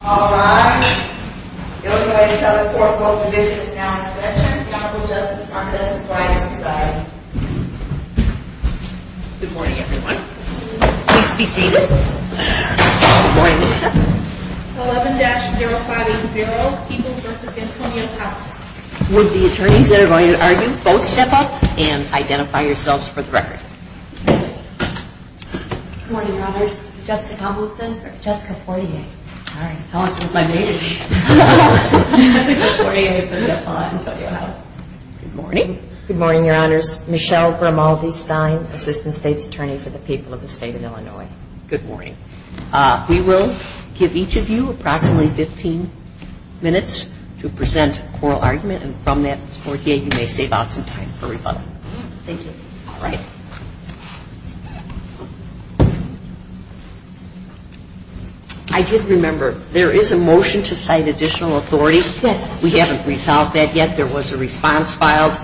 Good morning everyone. Please be seated. Good morning. 11-0580 Peoples v. Antonio House. Would the attorneys that are going to argue both step up and identify yourselves for the record. Good morning, Good morning, your honors. Michelle Grimaldi-Stein, Assistant State's Attorney for the People of the State of Illinois. Good morning. We will give each of you approximately 15 minutes to present a coral argument and from that 48 you may save out some time for rebuttal. Thank you. All right. I did remember there is a motion to cite additional authority. Yes. We haven't resolved that yet. There was a response filed.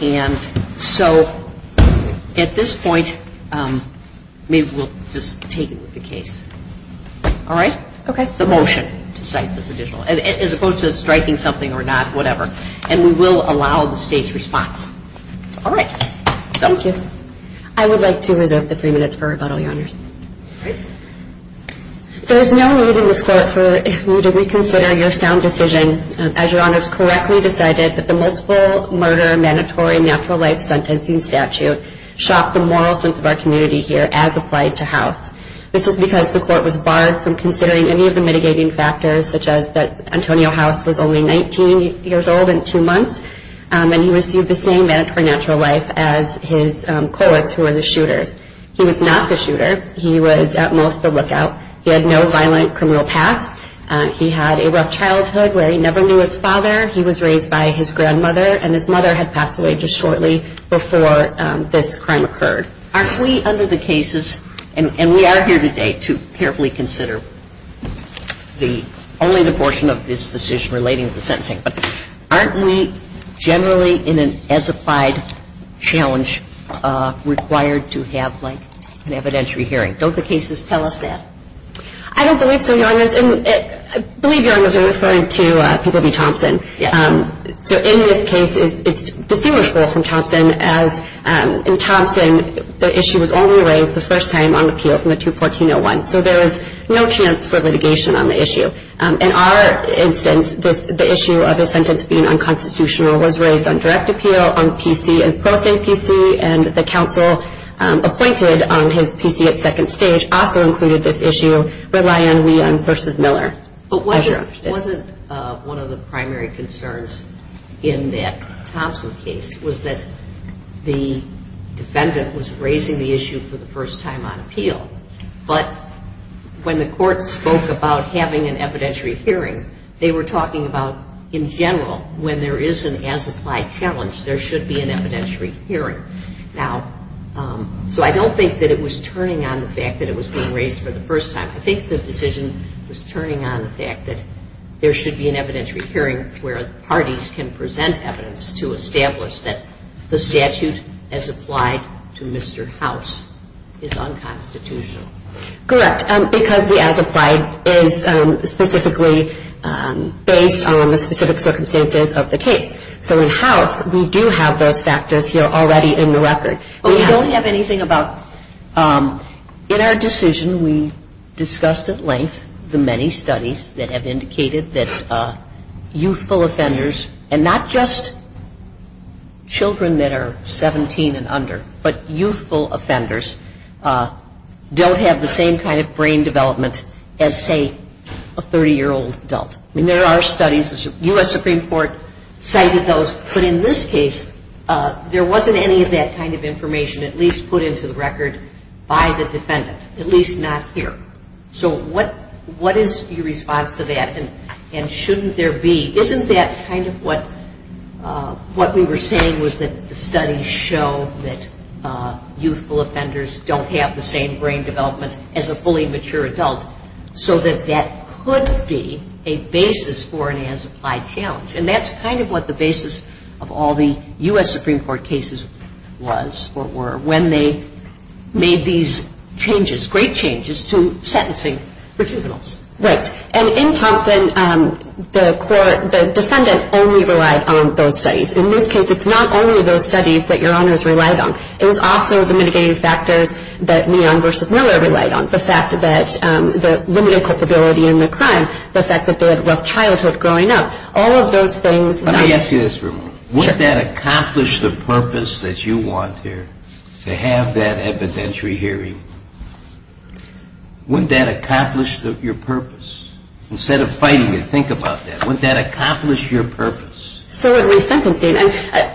And so at this point maybe we'll just take it with the case. All right. Okay. The motion to cite this additional, as opposed to striking something or not, whatever. And we will allow the State's response. All right. Thank you. I would like to reserve the three minutes for rebuttal, your honors. There is no need in this court for you to reconsider your sound decision as your honors correctly decided that the multiple murder mandatory natural life sentencing statute shocked the moral sense of our community here as applied to House. This is because the court was barred from considering any of the mitigating factors such as that Antonio House was only 19 years old and two months and he received the same sentence. He was not the shooter. He was at most the lookout. He had no violent criminal past. He had a rough childhood where he never knew his father. He was raised by his grandmother and his mother had passed away just shortly before this crime occurred. Aren't we under the cases, and we are here today to carefully consider only the portion of this decision relating to the sentencing, but aren't we generally in an as applied challenge required to have like an evidentiary hearing? Don't the cases tell us that? I don't believe so, your honors. And I believe your honors are referring to People v. Thompson. So in this case it's distinguishable from Thompson as in Thompson the issue was only raised the first time on appeal from the 214-01. So there is no chance for litigation on the issue. In our instance, the issue of the sentence being unconstitutional was raised on direct appeal on PC and post-APC and the counsel appointed on his PC at second stage also included this issue rely on we versus Miller. But wasn't one of the primary concerns in that Thompson case was that the defendant was raising the issue for the first time on appeal, but when the court spoke about having an evidentiary hearing, they were talking about in general when there is an as applied challenge there should be an evidentiary hearing. Now, so I don't think that it was turning on the fact that it was being raised for the first time. I think the decision was turning on the fact that there should be an evidentiary hearing where parties can present evidence to establish that the statute as applied to Mr. House is unconstitutional. Correct. Because the as applied is specifically based on the specific circumstances of the case. So in House we do have those factors here already in the record. But we don't have anything about in our decision we discussed at length the many studies that have indicated that youthful offenders and not just children that are 17 and under, but youthful offenders don't have the same kind of brain development as, say, a 30-year-old adult. I mean, there are studies. The U.S. Supreme Court cited those. But in this case, there wasn't any of that kind of information at least put into the record by the defendant, at least not here. So what is your response to that? And shouldn't there be isn't that kind of what we were saying was that the studies show that youthful offenders don't have the same brain development as a fully mature adult. So that that could be a basis for an as applied challenge. And that's kind of what the basis of all the U.S. Supreme Court cases was or were when they made these changes, great changes, to sentencing for juveniles. Right. And in Thompson, the defendant only relied on those studies. In this case, it's not only those studies that your honors relied on. It was also the mitigating factors that Meehan v. Miller relied on, the fact that the limited culpability in the crime, the fact that they had a rough childhood growing up, all of those things. Let me ask you this for a moment. Wouldn't that accomplish the purpose that you want here, to have that evidentiary hearing? Wouldn't that accomplish your purpose? Instead of fighting it, think about that. Wouldn't that accomplish your purpose? So in resentencing,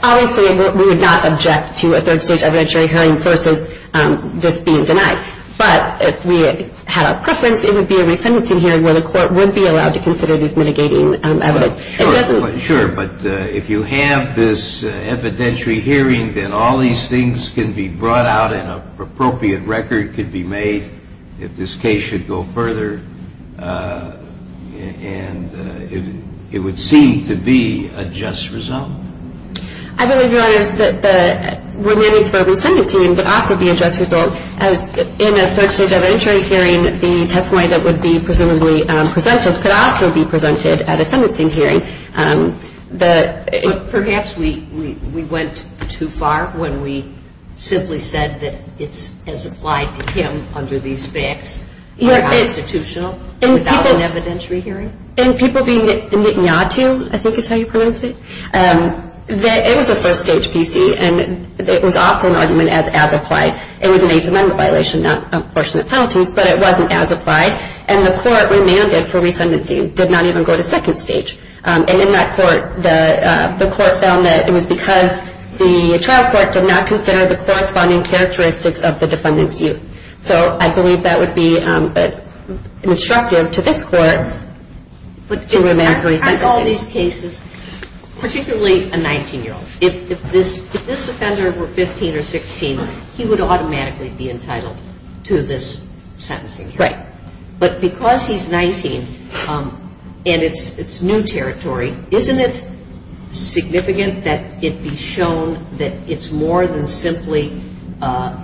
obviously we would not object to a third stage evidentiary hearing versus this being denied. But if we had our preference, it would be a resentencing hearing where the court would be allowed to consider this mitigating evidence. But if you have this evidentiary hearing, then all these things can be brought out and an appropriate record can be made if this case should go further. And it would seem to be a just result. I believe, your honors, that the remanded for resentencing would also be a just result. In a third stage evidentiary hearing, the testimony that would be presumably presented could also be presented at a sentencing hearing. But perhaps we went too far when we simply said that it's as applied to him under these facts, unconstitutional, without an evidentiary hearing? In people being nitinatu, I think is how you pronounce it, it was a first stage PC and it was also an argument as as applied. It was an Eighth Amendment violation, not a portion of penalties, but it wasn't as applied. And the court remanded for resentencing did not even go to second stage. And in that court, the court found that it was because the trial court did not consider the corresponding characteristics of the defendant's youth. So I believe that would be instructive to this court to remand for resentencing. But in all these cases, particularly a 19-year-old, if this offender were 15 or 16, he would automatically be entitled to this sentencing hearing. Right. But because he's 19 and it's new territory, isn't it significant that it be shown that it's more than simply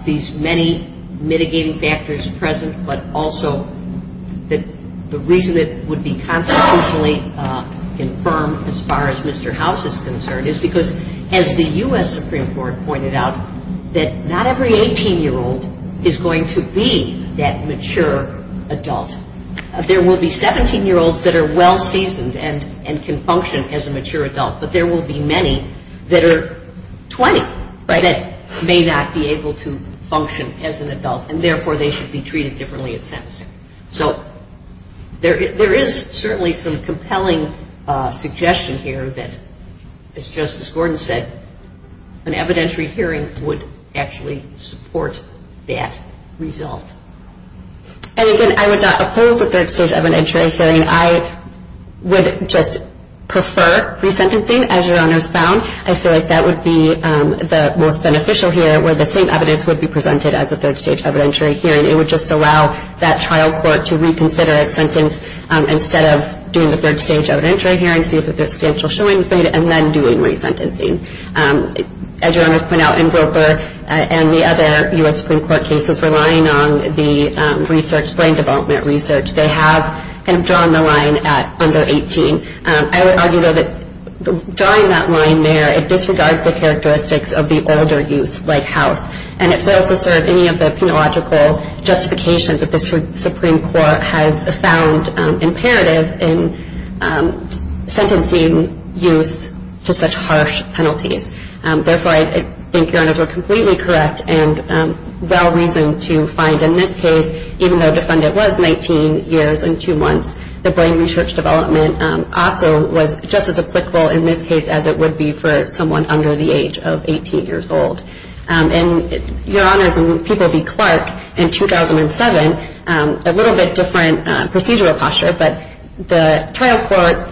these many mitigating factors present, but also that the reason it would be constitutionally confirmed as far as Mr. House is concerned is because, as the U.S. Supreme Court pointed out, that not every 18-year-old is going to be that mature adult. There will be 17-year-olds that are well-seasoned and can function as a mature adult, but there will be many that are 20 that may not be able to function as an adult, and therefore they should be treated differently at sentencing. So there is certainly some compelling suggestion here that, as Justice Gordon said, an evidentiary hearing would actually support that result. And again, I would not oppose a third-stage evidentiary hearing. I would just prefer resentencing, as Your Honors found. I feel like that would be the most beneficial here, where the same evidence would be presented as a third-stage evidentiary hearing. It would just allow that trial court to reconsider its sentence instead of doing the third-stage evidentiary hearing, see if there's substantial showing, and then doing resentencing. As Your Honors pointed out, in Wilbur and the other U.S. Supreme Court cases relying on the research, brain development research, they have kind of drawn the line at under 18. I would argue, though, that drawing that line there, it disregards the characteristics of the older youth like House, and it fails to serve any of the penological justifications that the Supreme Court has found imperative in sentencing youth to such harsh penalties. Therefore, I think Your Honors are completely correct and well-reasoned to find in this case, even though the defendant was 19 years and 2 months, the brain research development also was just as applicable in this case as it would be for someone under the age of 18 years old. And Your Honors, in People v. Clark in 2007, a little bit different procedural posture, but the trial court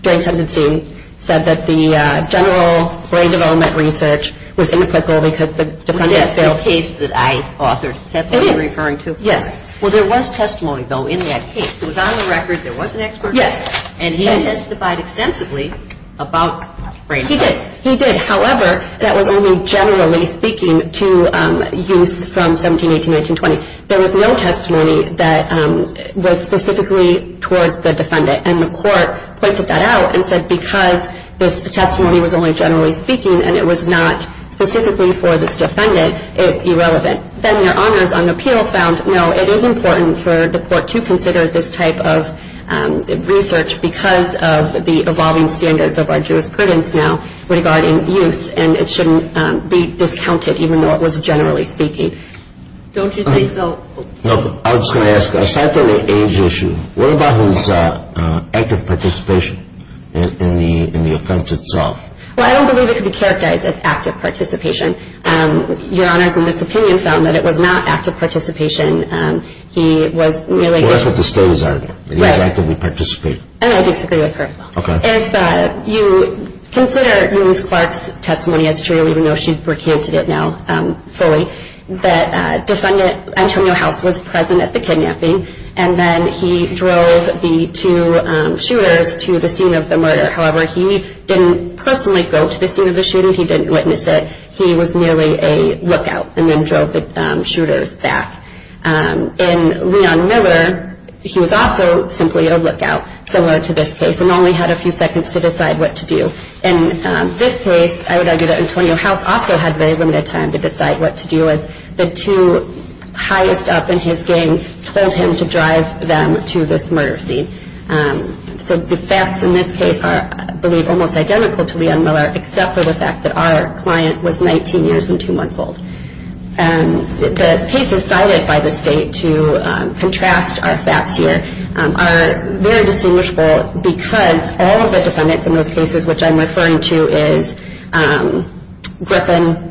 during sentencing said that the general brain development research was inapplicable because the defendant failed. Was that the case that I authored? It is. Is that what you're referring to? Yes. Well, there was testimony, though, in that case. It was on the record. There was an expert. Yes. And he testified extensively about brain development. He did. However, that was only generally speaking to youths from 17, 18, 19, 20. There was no testimony that was specifically towards the defendant. And the court pointed that out and said because this testimony was only generally speaking and it was not specifically for this defendant, it's irrelevant. Then Your Honors, on appeal, found, no, it is important for the court to consider this type of research because of the evolving standards of our jurisprudence now regarding youths, and it shouldn't be discounted even though it was generally speaking. Don't you think so? I was just going to ask, aside from the age issue, what about his active participation in the offense itself? Well, I don't believe it can be characterized as active participation. Your Honors, in this opinion, found that it was not active participation. He was merely… Well, that's what the studies are. Right. He was actively participating. And I disagree with her. Okay. If you consider Elyse Clark's testimony as true, even though she's recanted it now fully, that defendant Antonio House was present at the kidnapping, and then he drove the two shooters to the scene of the murder. However, he didn't personally go to the scene of the shooting. He didn't witness it. He was merely a lookout and then drove the shooters back. In Leon Miller, he was also simply a lookout, similar to this case, and only had a few seconds to decide what to do. In this case, I would argue that Antonio House also had very limited time to decide what to do as the two highest up in his gang told him to drive them to this murder scene. So the facts in this case are, I believe, almost identical to Leon Miller, except for the fact that our client was 19 years and two months old. The cases cited by the state to contrast our facts here are very distinguishable because all of the defendants in those cases, which I'm referring to as Griffin,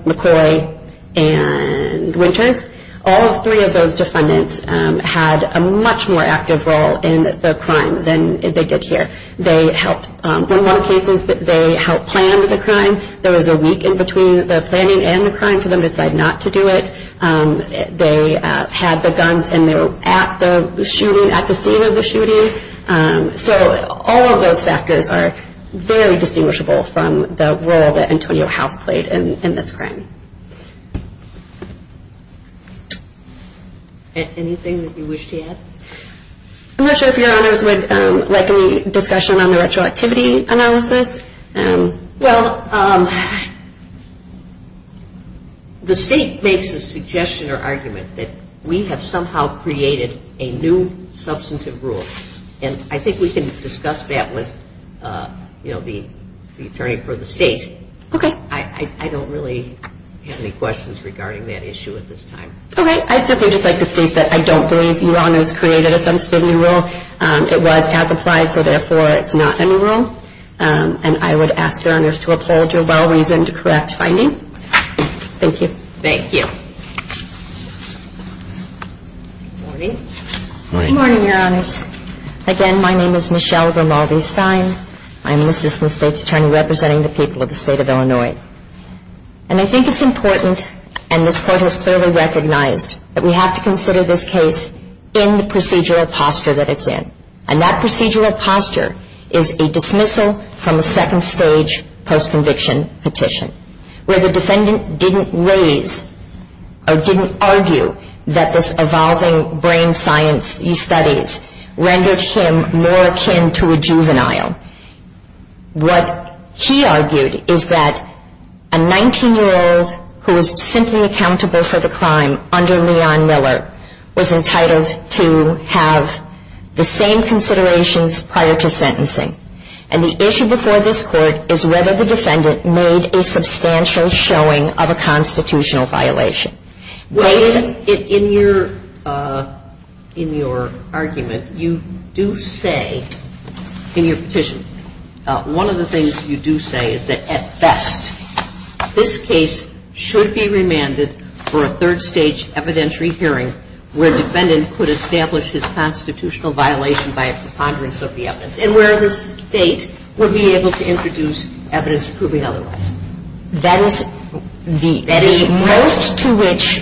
McCoy, and Winters, all three of those defendants had a much more active role in the crime than they did here. In one of the cases, they helped plan the crime. There was a week in between the planning and the crime for them to decide not to do it. They had the guns and they were at the scene of the shooting. So all of those factors are very distinguishable from the role that Antonio House played in this crime. Anything that you wish to add? I'm not sure if Your Honors would like any discussion on the retroactivity analysis. Well, the state makes a suggestion or argument that we have somehow created a new substantive rule. And I think we can discuss that with the attorney for the state. Okay. I don't really have any questions regarding that issue at this time. Okay. I'd simply just like to state that I don't believe Your Honors created a substantive new rule. It was as applied, so therefore it's not a new rule. And I would ask Your Honors to uphold your well-reasoned, correct finding. Thank you. Thank you. Good morning. Good morning, Your Honors. Again, my name is Michelle Grimaldi-Stein. I'm an assistant state's attorney representing the people of the state of Illinois. And I think it's important, and this Court has clearly recognized, that we have to consider this case in the procedural posture that it's in. And that procedural posture is a dismissal from a second-stage post-conviction petition where the defendant didn't raise or didn't argue that this evolving brain science he studies rendered him more akin to a juvenile. What he argued is that a 19-year-old who is simply accountable for the crime under Leon Miller was entitled to have the same considerations prior to sentencing. And the issue before this Court is whether the defendant made a substantial showing of a constitutional violation. In your argument, you do say in your petition, one of the things you do say is that at best, this case should be remanded for a third-stage evidentiary hearing where the defendant could establish his constitutional violation by a preponderance of the evidence and where the State would be able to introduce evidence proving otherwise. That is the most to which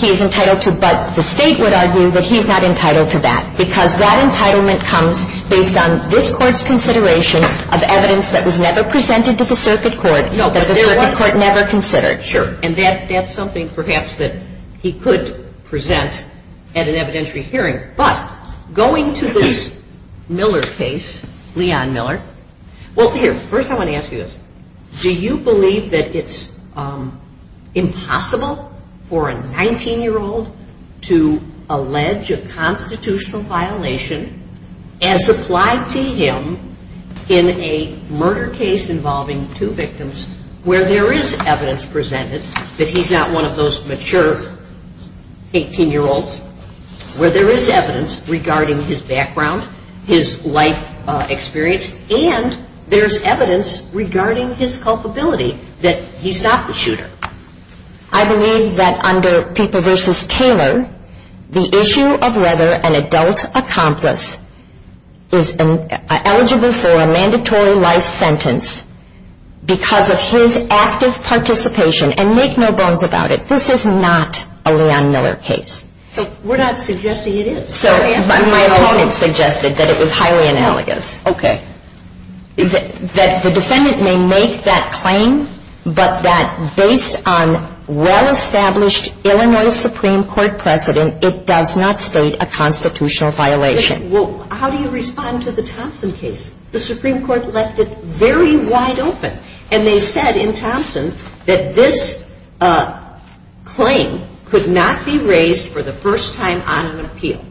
he is entitled to, but the State would argue that he's not entitled to that because that entitlement comes based on this Court's consideration of evidence that was never presented to the circuit court, that the circuit court never considered. Sure. And that's something perhaps that he could present at an evidentiary hearing. But going to this Miller case, Leon Miller, well, here, first I want to ask you this. Do you believe that it's impossible for a 19-year-old to allege a constitutional violation as applied to him in a murder case involving two victims where there is evidence presented that he's not one of those mature 18-year-olds, where there is evidence regarding his background, his life experience, and there's evidence regarding his culpability that he's not the shooter? I believe that under Pieper v. Taylor, the issue of whether an adult accomplice is eligible for a mandatory life sentence because of his active participation, and make no bones about it, this is not a Leon Miller case. We're not suggesting it is. So my opponent suggested that it was highly analogous. Okay. That the defendant may make that claim, but that based on well-established Illinois Supreme Court precedent, it does not state a constitutional violation. Well, how do you respond to the Thompson case? The Supreme Court left it very wide open, and they said in Thompson that this claim could not be raised for the first time on an appeal.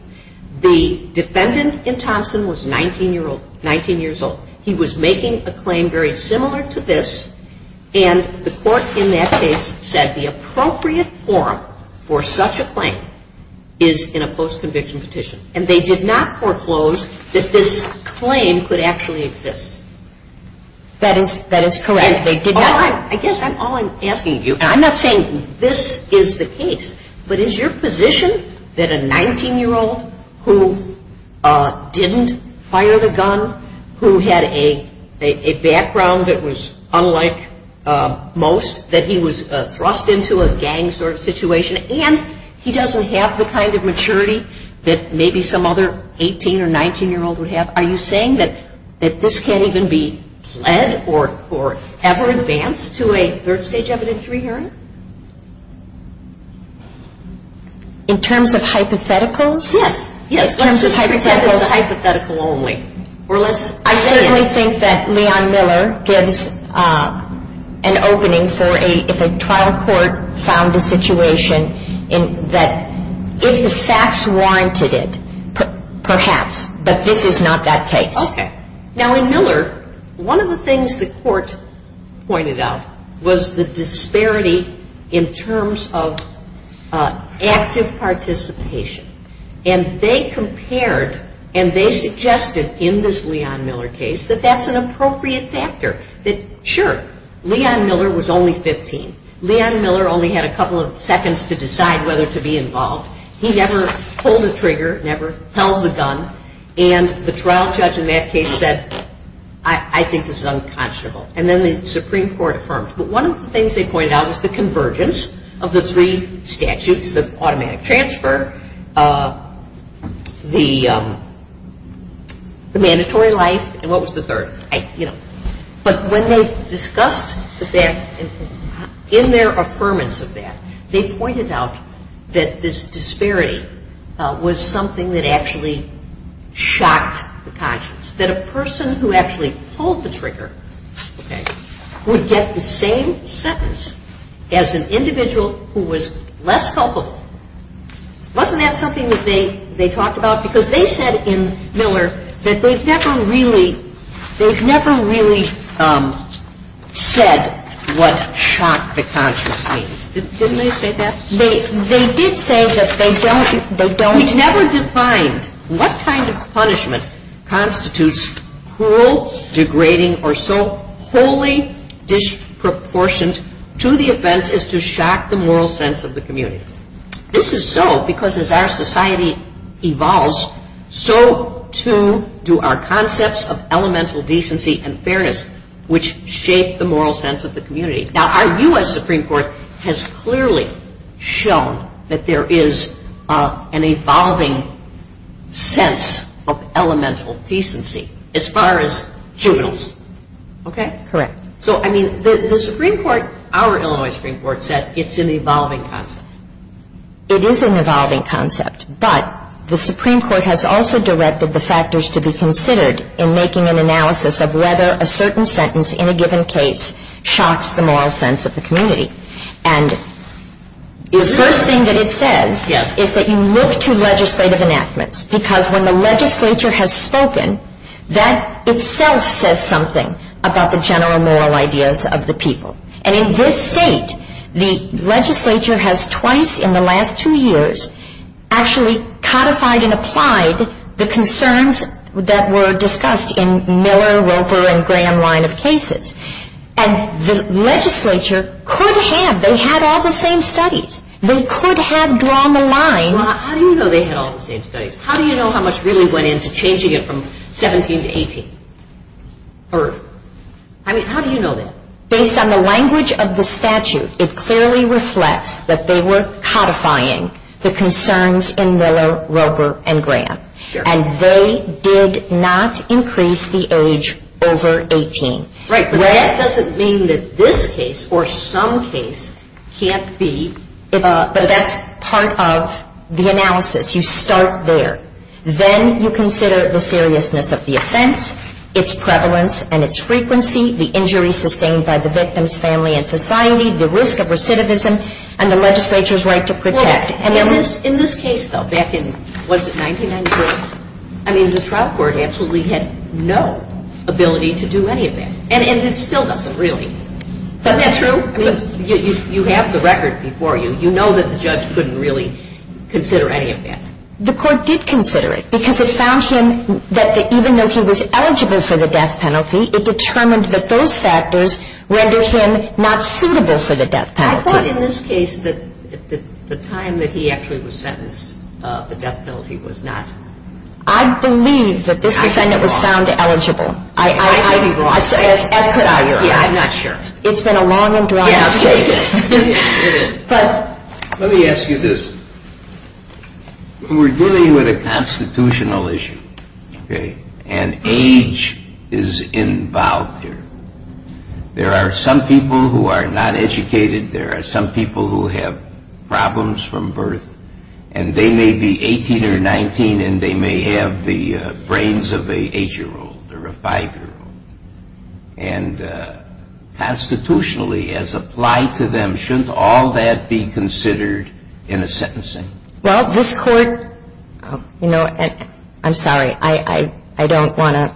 The defendant in Thompson was 19 years old. He was making a claim very similar to this, and the court in that case said the appropriate form for such a claim is in a post-conviction petition, and they did not foreclose that this claim could actually exist. That is correct. I guess all I'm asking you, and I'm not saying this is the case, but is your position that a 19-year-old who didn't fire the gun, who had a background that was unlike most, that he was thrust into a gang sort of situation, and he doesn't have the kind of maturity that maybe some other 18- or 19-year-old would have, are you saying that this can't even be pled or ever advance to a third-stage evidentiary hearing? In terms of hypotheticals? Yes. Yes. In terms of hypotheticals. Let's just pretend it's a hypothetical only. I certainly think that Leon Miller gives an opening for if a trial court found a situation that if the facts warranted it, perhaps, but this is not that case. Okay. Now, in Miller, one of the things the court pointed out was the disparity in terms of active participation, and they compared and they suggested in this Leon Miller case that that's an appropriate factor, that sure, Leon Miller was only 15. Leon Miller only had a couple of seconds to decide whether to be involved. He never pulled the trigger, never held the gun, and the trial judge in that case said, I think this is unconscionable. And then the Supreme Court affirmed. But one of the things they pointed out was the convergence of the three statutes, the automatic transfer, the mandatory life, and what was the third? But when they discussed that, in their affirmance of that, they pointed out that this disparity was something that actually shocked the conscience, that a person who actually pulled the trigger would get the same sentence as an individual who was less culpable. Wasn't that something that they talked about? Because they said in Miller that they've never really said what shocked the conscience. Didn't they say that? They did say that they don't. We never defined what kind of punishment constitutes cruel, degrading, or so wholly disproportionate to the offense as to shock the moral sense of the community. This is so because as our society evolves, so too do our concepts of elemental decency and fairness, which shape the moral sense of the community. Now, our U.S. Supreme Court has clearly shown that there is an evolving sense of elemental decency as far as juveniles. Okay? Correct. So, I mean, the Supreme Court, our Illinois Supreme Court, said it's an evolving concept. It is an evolving concept. But the Supreme Court has also directed the factors to be considered in making an analysis of whether a certain sentence in a given case shocks the moral sense of the community. And the first thing that it says is that you look to legislative enactments, because when the legislature has spoken, that itself says something about the general moral ideas of the people. And in this state, the legislature has twice in the last two years actually codified and applied the concerns that were discussed in Miller, Roper, and Graham line of cases. And the legislature could have. They had all the same studies. They could have drawn the line. Well, how do you know they had all the same studies? How do you know how much really went into changing it from 17 to 18? I mean, how do you know that? Based on the language of the statute, it clearly reflects that they were codifying the concerns in Miller, Roper, and Graham. And they did not increase the age over 18. Right, but that doesn't mean that this case or some case can't be. But that's part of the analysis. You start there. Then you consider the seriousness of the offense, its prevalence and its frequency, the injury sustained by the victim's family and society, the risk of recidivism, and the legislature's right to protect. In this case, though, back in, was it 1993? I mean, the trial court absolutely had no ability to do any of that. And it still doesn't really. Isn't that true? I mean, you have the record before you. You know that the judge couldn't really consider any of that. The court did consider it because it found him that even though he was eligible for the death penalty, it determined that those factors rendered him not suitable for the death penalty. But in this case, the time that he actually was sentenced, the death penalty was not. I believe that this defendant was found eligible. I'd be wrong. As could I, Your Honor. Yeah, I'm not sure. It's been a long and dry case. Yeah, it is. Let me ask you this. We're dealing with a constitutional issue, okay? And age is involved here. There are some people who are not educated. There are some people who have problems from birth, and they may be 18 or 19, and they may have the brains of an 8-year-old or a 5-year-old. And constitutionally, as applied to them, shouldn't all that be considered in a sentencing? Well, this court, you know, I'm sorry. I don't want to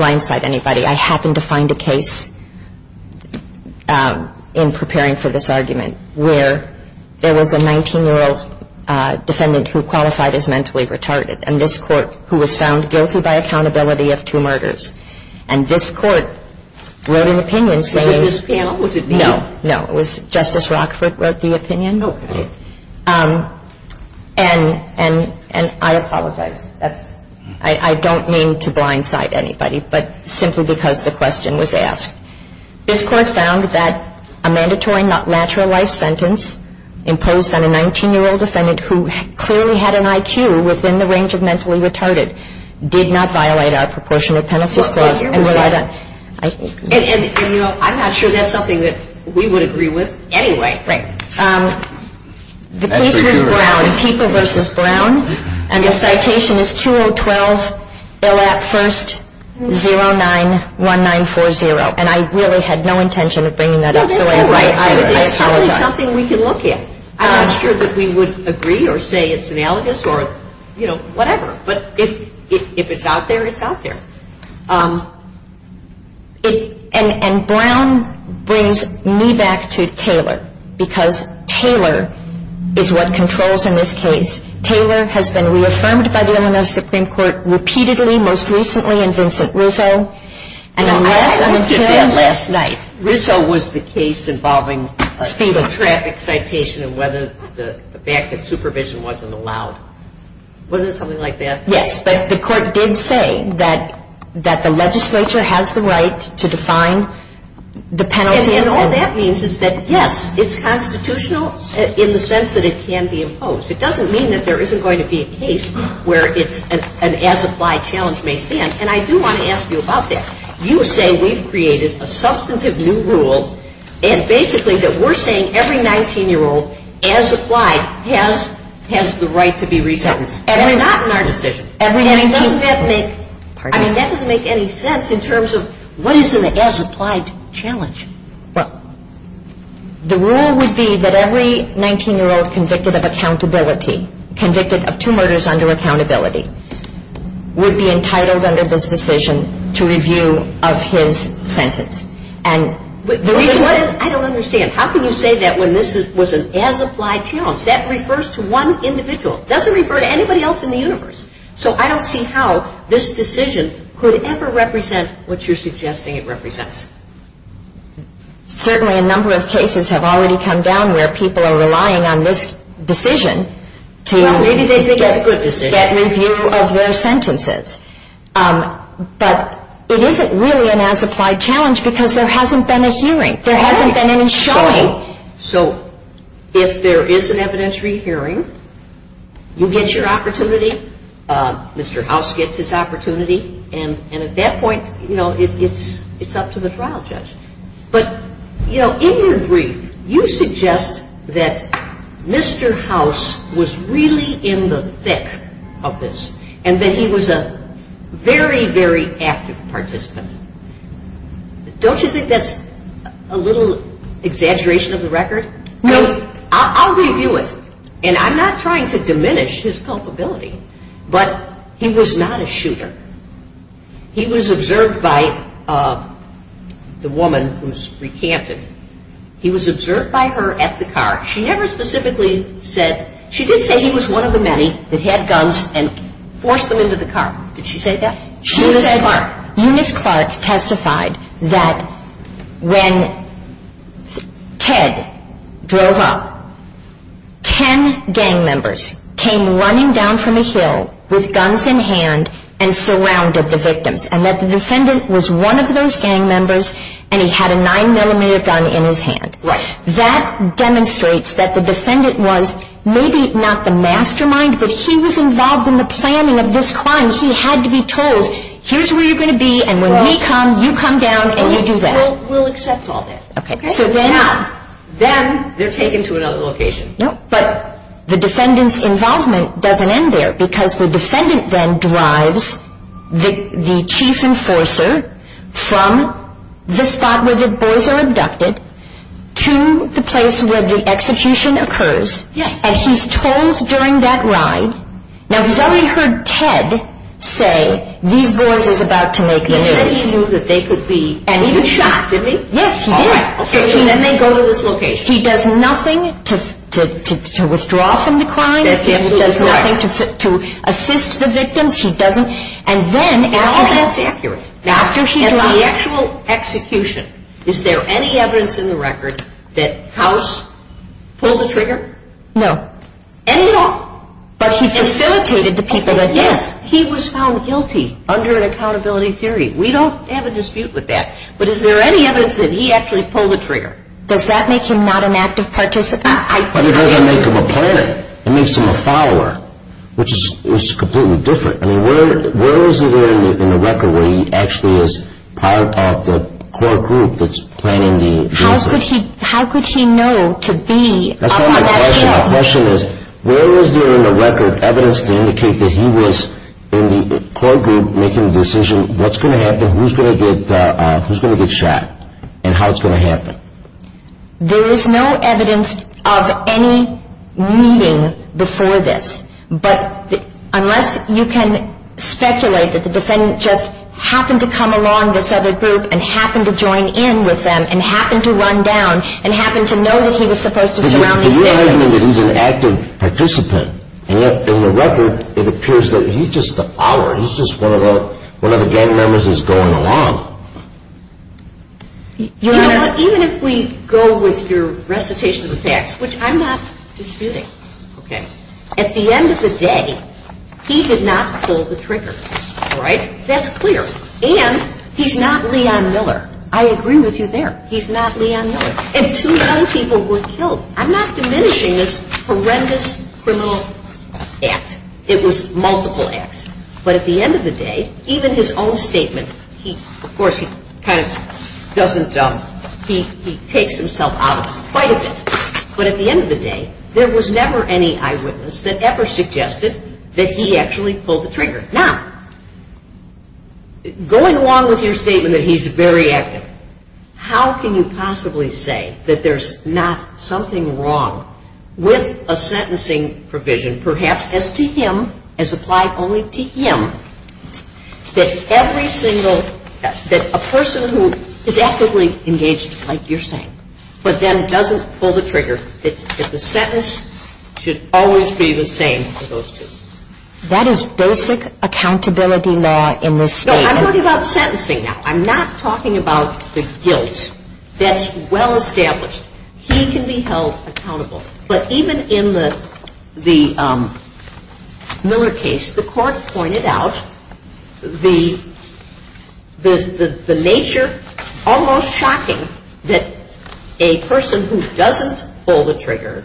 blindside anybody. I happen to find a case in preparing for this argument where there was a 19-year-old defendant who qualified as mentally retarded, and this court, who was found guilty by accountability of two murders. And this court wrote an opinion saying no. Was it this panel? Was it me? No, no. It was Justice Rockford wrote the opinion. Okay. And I apologize. I don't mean to blindside anybody, but simply because the question was asked. This court found that a mandatory not lateral life sentence imposed on a 19-year-old defendant who clearly had an IQ within the range of mentally retarded did not violate our proportionate penalty clause. And, you know, I'm not sure that's something that we would agree with anyway. Right. The case was Brown, People v. Brown. And the citation is 2012, ILAP 1st, 091940. And I really had no intention of bringing that up, so I apologize. No, that's all right. It's something we can look at. I'm not sure that we would agree or say it's analogous or, you know, whatever. But if it's out there, it's out there. And Brown brings me back to Taylor, because Taylor is what controls in this case. Taylor has been reaffirmed by the Illinois Supreme Court repeatedly, most recently in Vincent Rizzo. I looked at that last night. Rizzo was the case involving a traffic citation and whether the fact that supervision wasn't allowed. Was it something like that? Yes, but the court did say that the legislature has the right to define the penalty. And all that means is that, yes, it's constitutional in the sense that it can be imposed. It doesn't mean that there isn't going to be a case where it's an as-applied challenge may stand. And I do want to ask you about that. You say we've created a substantive new rule, and basically that we're saying every 19-year-old as applied has the right to be re-sentenced. That's not in our decision. I mean, that doesn't make any sense in terms of what is an as-applied challenge. Well, the rule would be that every 19-year-old convicted of accountability, convicted of two murders under accountability, would be entitled under this decision to review of his sentence. I don't understand. How can you say that when this was an as-applied challenge? That refers to one individual. It doesn't refer to anybody else in the universe. So I don't see how this decision could ever represent what you're suggesting it represents. Certainly a number of cases have already come down where people are relying on this decision to get review of their sentences. Well, maybe they think it's a good decision. But it isn't really an as-applied challenge because there hasn't been a hearing. There hasn't been any showing. So if there is an evidentiary hearing, you get your opportunity. Mr. House gets his opportunity. And at that point, you know, it's up to the trial judge. But, you know, in your brief, you suggest that Mr. House was really in the thick of this and that he was a very, very active participant. Don't you think that's a little exaggeration of the record? No. I'll review it. And I'm not trying to diminish his culpability. But he was not a shooter. He was observed by the woman who's recanted. He was observed by her at the car. She never specifically said he was one of the many that had guns and forced them into the car. Did she say that? Eunice Clark testified that when Ted drove up, 10 gang members came running down from a hill with guns in hand and surrounded the victims and that the defendant was one of those gang members and he had a 9mm gun in his hand. Right. That demonstrates that the defendant was maybe not the mastermind, but he was involved in the planning of this crime. And he had to be told, here's where you're going to be and when we come, you come down and you do that. We'll accept all that. Okay. So then they're taken to another location. But the defendant's involvement doesn't end there because the defendant then drives the chief enforcer from the spot where the boys are abducted to the place where the execution occurs. Yes. And he's told during that ride. Now, he's already heard Ted say, these boys is about to make this case. And he knew that they could be... And he was shocked, didn't he? Yes, he did. All right. So then they go to this location. He does nothing to withdraw from the crime. That's absolutely correct. He does nothing to assist the victims. He doesn't... All of that's accurate. After he drives... In the actual execution, is there any evidence in the record that House pulled the trigger? No. Any at all? But he facilitated the people that... Yes. He was found guilty under an accountability theory. We don't have a dispute with that. But is there any evidence that he actually pulled the trigger? Does that make him not an active participant? It doesn't make him a planner. It makes him a follower, which is completely different. I mean, where is he there in the record where he actually is part of the core group that's planning the... How could he know to be... That's not my question. My question is, where is there in the record evidence to indicate that he was in the core group making the decision, what's going to happen, who's going to get shot, and how it's going to happen? There is no evidence of any meeting before this. But unless you can speculate that the defendant just happened to come along this other group and happened to join in with them and happened to run down and happened to know that he was supposed to surround these... But you're arguing that he's an active participant. And yet, in the record, it appears that he's just a follower. He's just one of the gang members that's going along. Your Honor, even if we go with your recitation of the facts, which I'm not disputing, okay, at the end of the day, he did not pull the trigger. All right? That's clear. And he's not Leon Miller. I agree with you there. He's not Leon Miller. And two young people were killed. I'm not diminishing this horrendous criminal act. It was multiple acts. But at the end of the day, even his own statement, of course, he kind of doesn't... He takes himself out of it quite a bit. But at the end of the day, there was never any eyewitness that ever suggested that he actually pulled the trigger. Now, going along with your statement that he's very active, how can you possibly say that there's not something wrong with a sentencing provision, perhaps as to him, as applied only to him, that every single... that a person who is actively engaged, like you're saying, but then doesn't pull the trigger, that the sentence should always be the same for those two? That is basic accountability law in this statement. No, I'm talking about sentencing now. I'm not talking about the guilt. That's well established. He can be held accountable. But even in the Miller case, the court pointed out the nature, almost shocking, that a person who doesn't pull the trigger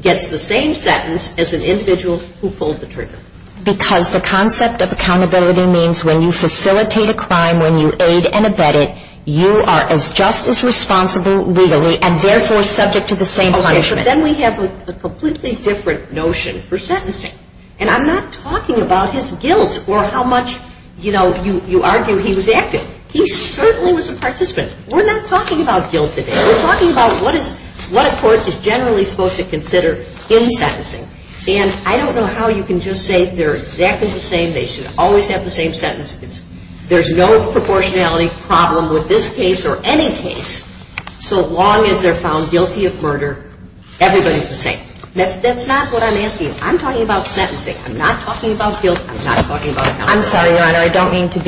gets the same sentence as an individual who pulled the trigger. Because the concept of accountability means when you facilitate a crime, when you aid and abet it, you are as just as responsible legally and therefore subject to the same punishment. Okay, but then we have a completely different notion for sentencing. And I'm not talking about his guilt or how much, you know, you argue he was active. He certainly was a participant. We're not talking about guilt today. We're talking about what a court is generally supposed to consider in sentencing. And I don't know how you can just say they're exactly the same, they should always have the same sentences. There's no proportionality problem with this case or any case, so long as they're found guilty of murder, everybody's the same. That's not what I'm asking. I'm talking about sentencing. I'm not talking about guilt. I'm not talking about accountability. I'm sorry, Your Honor. I don't mean to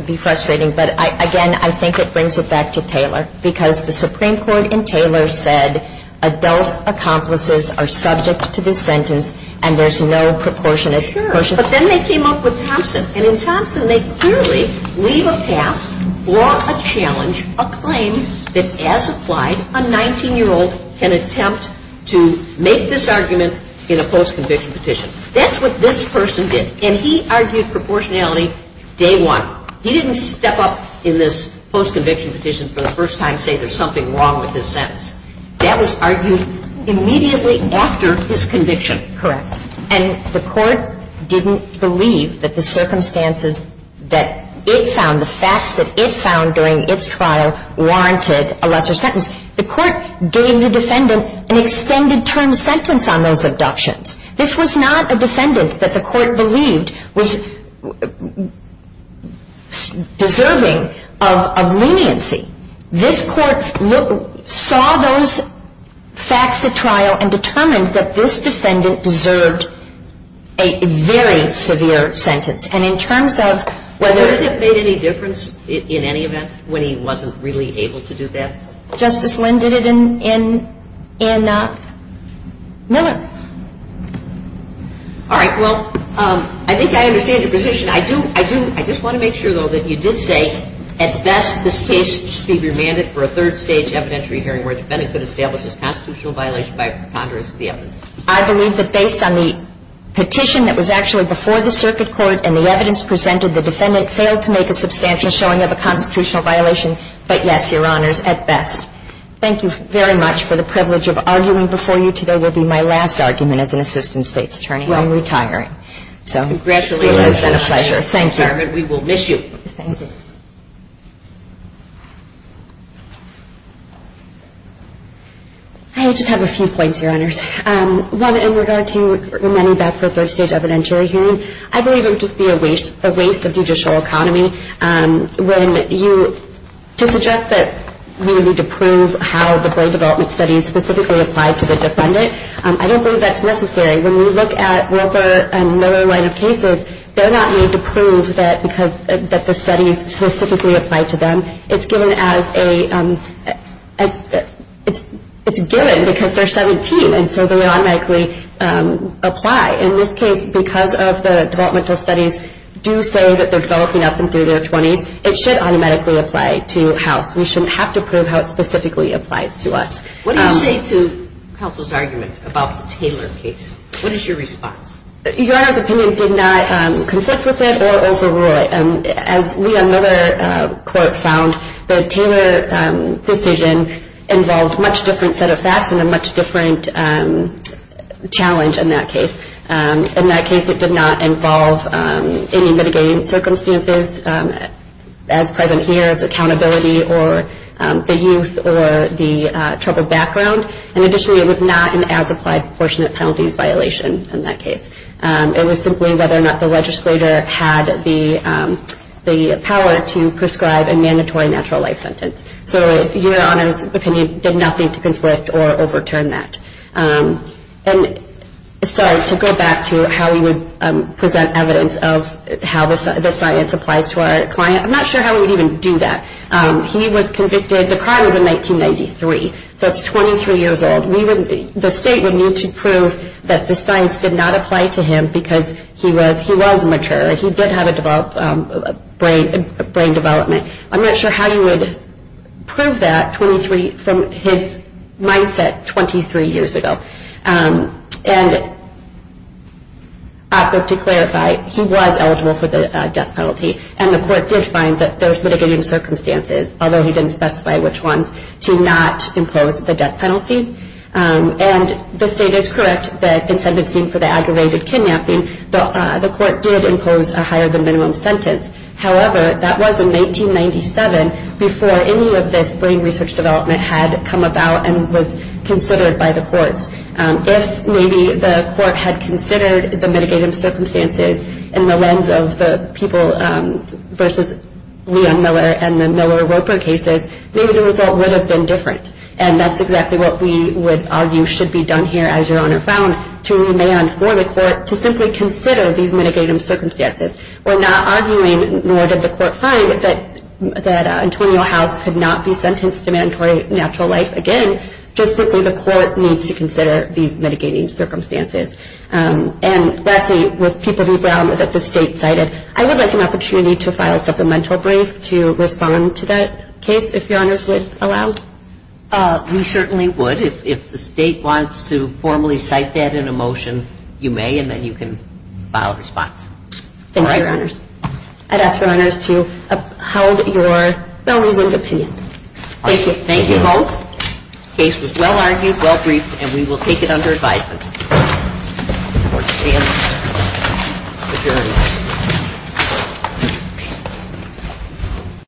be frustrating. But, again, I think it brings it back to Taylor, because the Supreme Court in Taylor said adult accomplices are subject to the sentence and there's no proportionate question. Sure. But then they came up with Thompson. And in Thompson they clearly leave a path for a challenge, a claim that, as applied, a 19-year-old can attempt to make this argument in a post-conviction petition. That's what this person did. And he argued proportionality day one. He didn't step up in this post-conviction petition for the first time and say there's something wrong with his sentence. That was argued immediately after his conviction. Correct. And the court didn't believe that the circumstances that it found, the facts that it found during its trial, warranted a lesser sentence. The court gave the defendant an extended term sentence on those abductions. This was not a defendant that the court believed was deserving of leniency. This court saw those facts at trial and determined that this defendant deserved a very severe sentence. And in terms of whether ---- Did it make any difference in any event when he wasn't really able to do that? Justice Lynn did it in Miller. All right. Well, I think I understand your position. I do, I do. I just want to make sure, though, that you did say, at best this case should be remanded for a third-stage evidentiary hearing where a defendant could establish a constitutional violation by a preconderance of the evidence. I believe that based on the petition that was actually before the circuit court and the evidence presented, the defendant failed to make a substantial showing of a constitutional violation. But, yes, Your Honors, at best. Thank you very much for the privilege of arguing before you. Today will be my last argument as an assistant State's attorney. I'm retiring. Congratulations. It's been a pleasure. Thank you. We will miss you. Thank you. I just have a few points, Your Honors. One, in regard to remanding back for a third-stage evidentiary hearing, I believe it would just be a waste of judicial economy when you ---- to suggest that we need to prove how the Broad Development Studies specifically apply to the defendant. I don't believe that's necessary. When we look at Wilbur and Miller line of cases, they're not made to prove that the studies specifically apply to them. It's given as a ---- it's given because they're 17, and so they automatically apply. In this case, because of the Developmental Studies do say that they're developing up into their 20s, it should automatically apply to House. We shouldn't have to prove how it specifically applies to us. What do you say to counsel's argument about the Taylor case? What is your response? Your Honor's opinion did not conflict with it or overrule it. As Leon Miller quote found, the Taylor decision involved much different set of facts and a much different challenge in that case. In that case, it did not involve any mitigating circumstances as present here, in terms of accountability or the youth or the troubled background. Additionally, it was not an as-applied proportionate penalties violation in that case. It was simply whether or not the legislator had the power to prescribe a mandatory natural life sentence. Your Honor's opinion did nothing to conflict or overturn that. To go back to how we would present evidence of how the science applies to our client, I'm not sure how we would even do that. He was convicted, the crime was in 1993, so it's 23 years old. The state would need to prove that the science did not apply to him because he was mature. He did have a brain development. I'm not sure how you would prove that from his mindset 23 years ago. Also to clarify, he was eligible for the death penalty, and the court did find that there was mitigating circumstances, although he didn't specify which ones, to not impose the death penalty. The state is correct that in sentencing for the aggravated kidnapping, the court did impose a higher than minimum sentence. However, that was in 1997, before any of this brain research development had come about and was considered by the courts. If maybe the court had considered the mitigating circumstances in the lens of the people versus Leon Miller and the Miller-Roper cases, maybe the result would have been different. And that's exactly what we would argue should be done here, as Your Honor found, to remand for the court to simply consider these mitigating circumstances. We're not arguing, nor did the court find, that Antonio House could not be sentenced to mandatory natural life again, just simply the court needs to consider these mitigating circumstances. And lastly, would people be grounded that the state cited? I would like an opportunity to file a supplemental brief to respond to that case, if Your Honors would allow. We certainly would. If the state wants to formally cite that in a motion, you may, and then you can file a response. Thank you, Your Honors. I'd ask Your Honors to uphold your well-reasoned opinion. Thank you. Thank you both. The case was well-argued, well-briefed, and we will take it under advisement. Court is adjourned.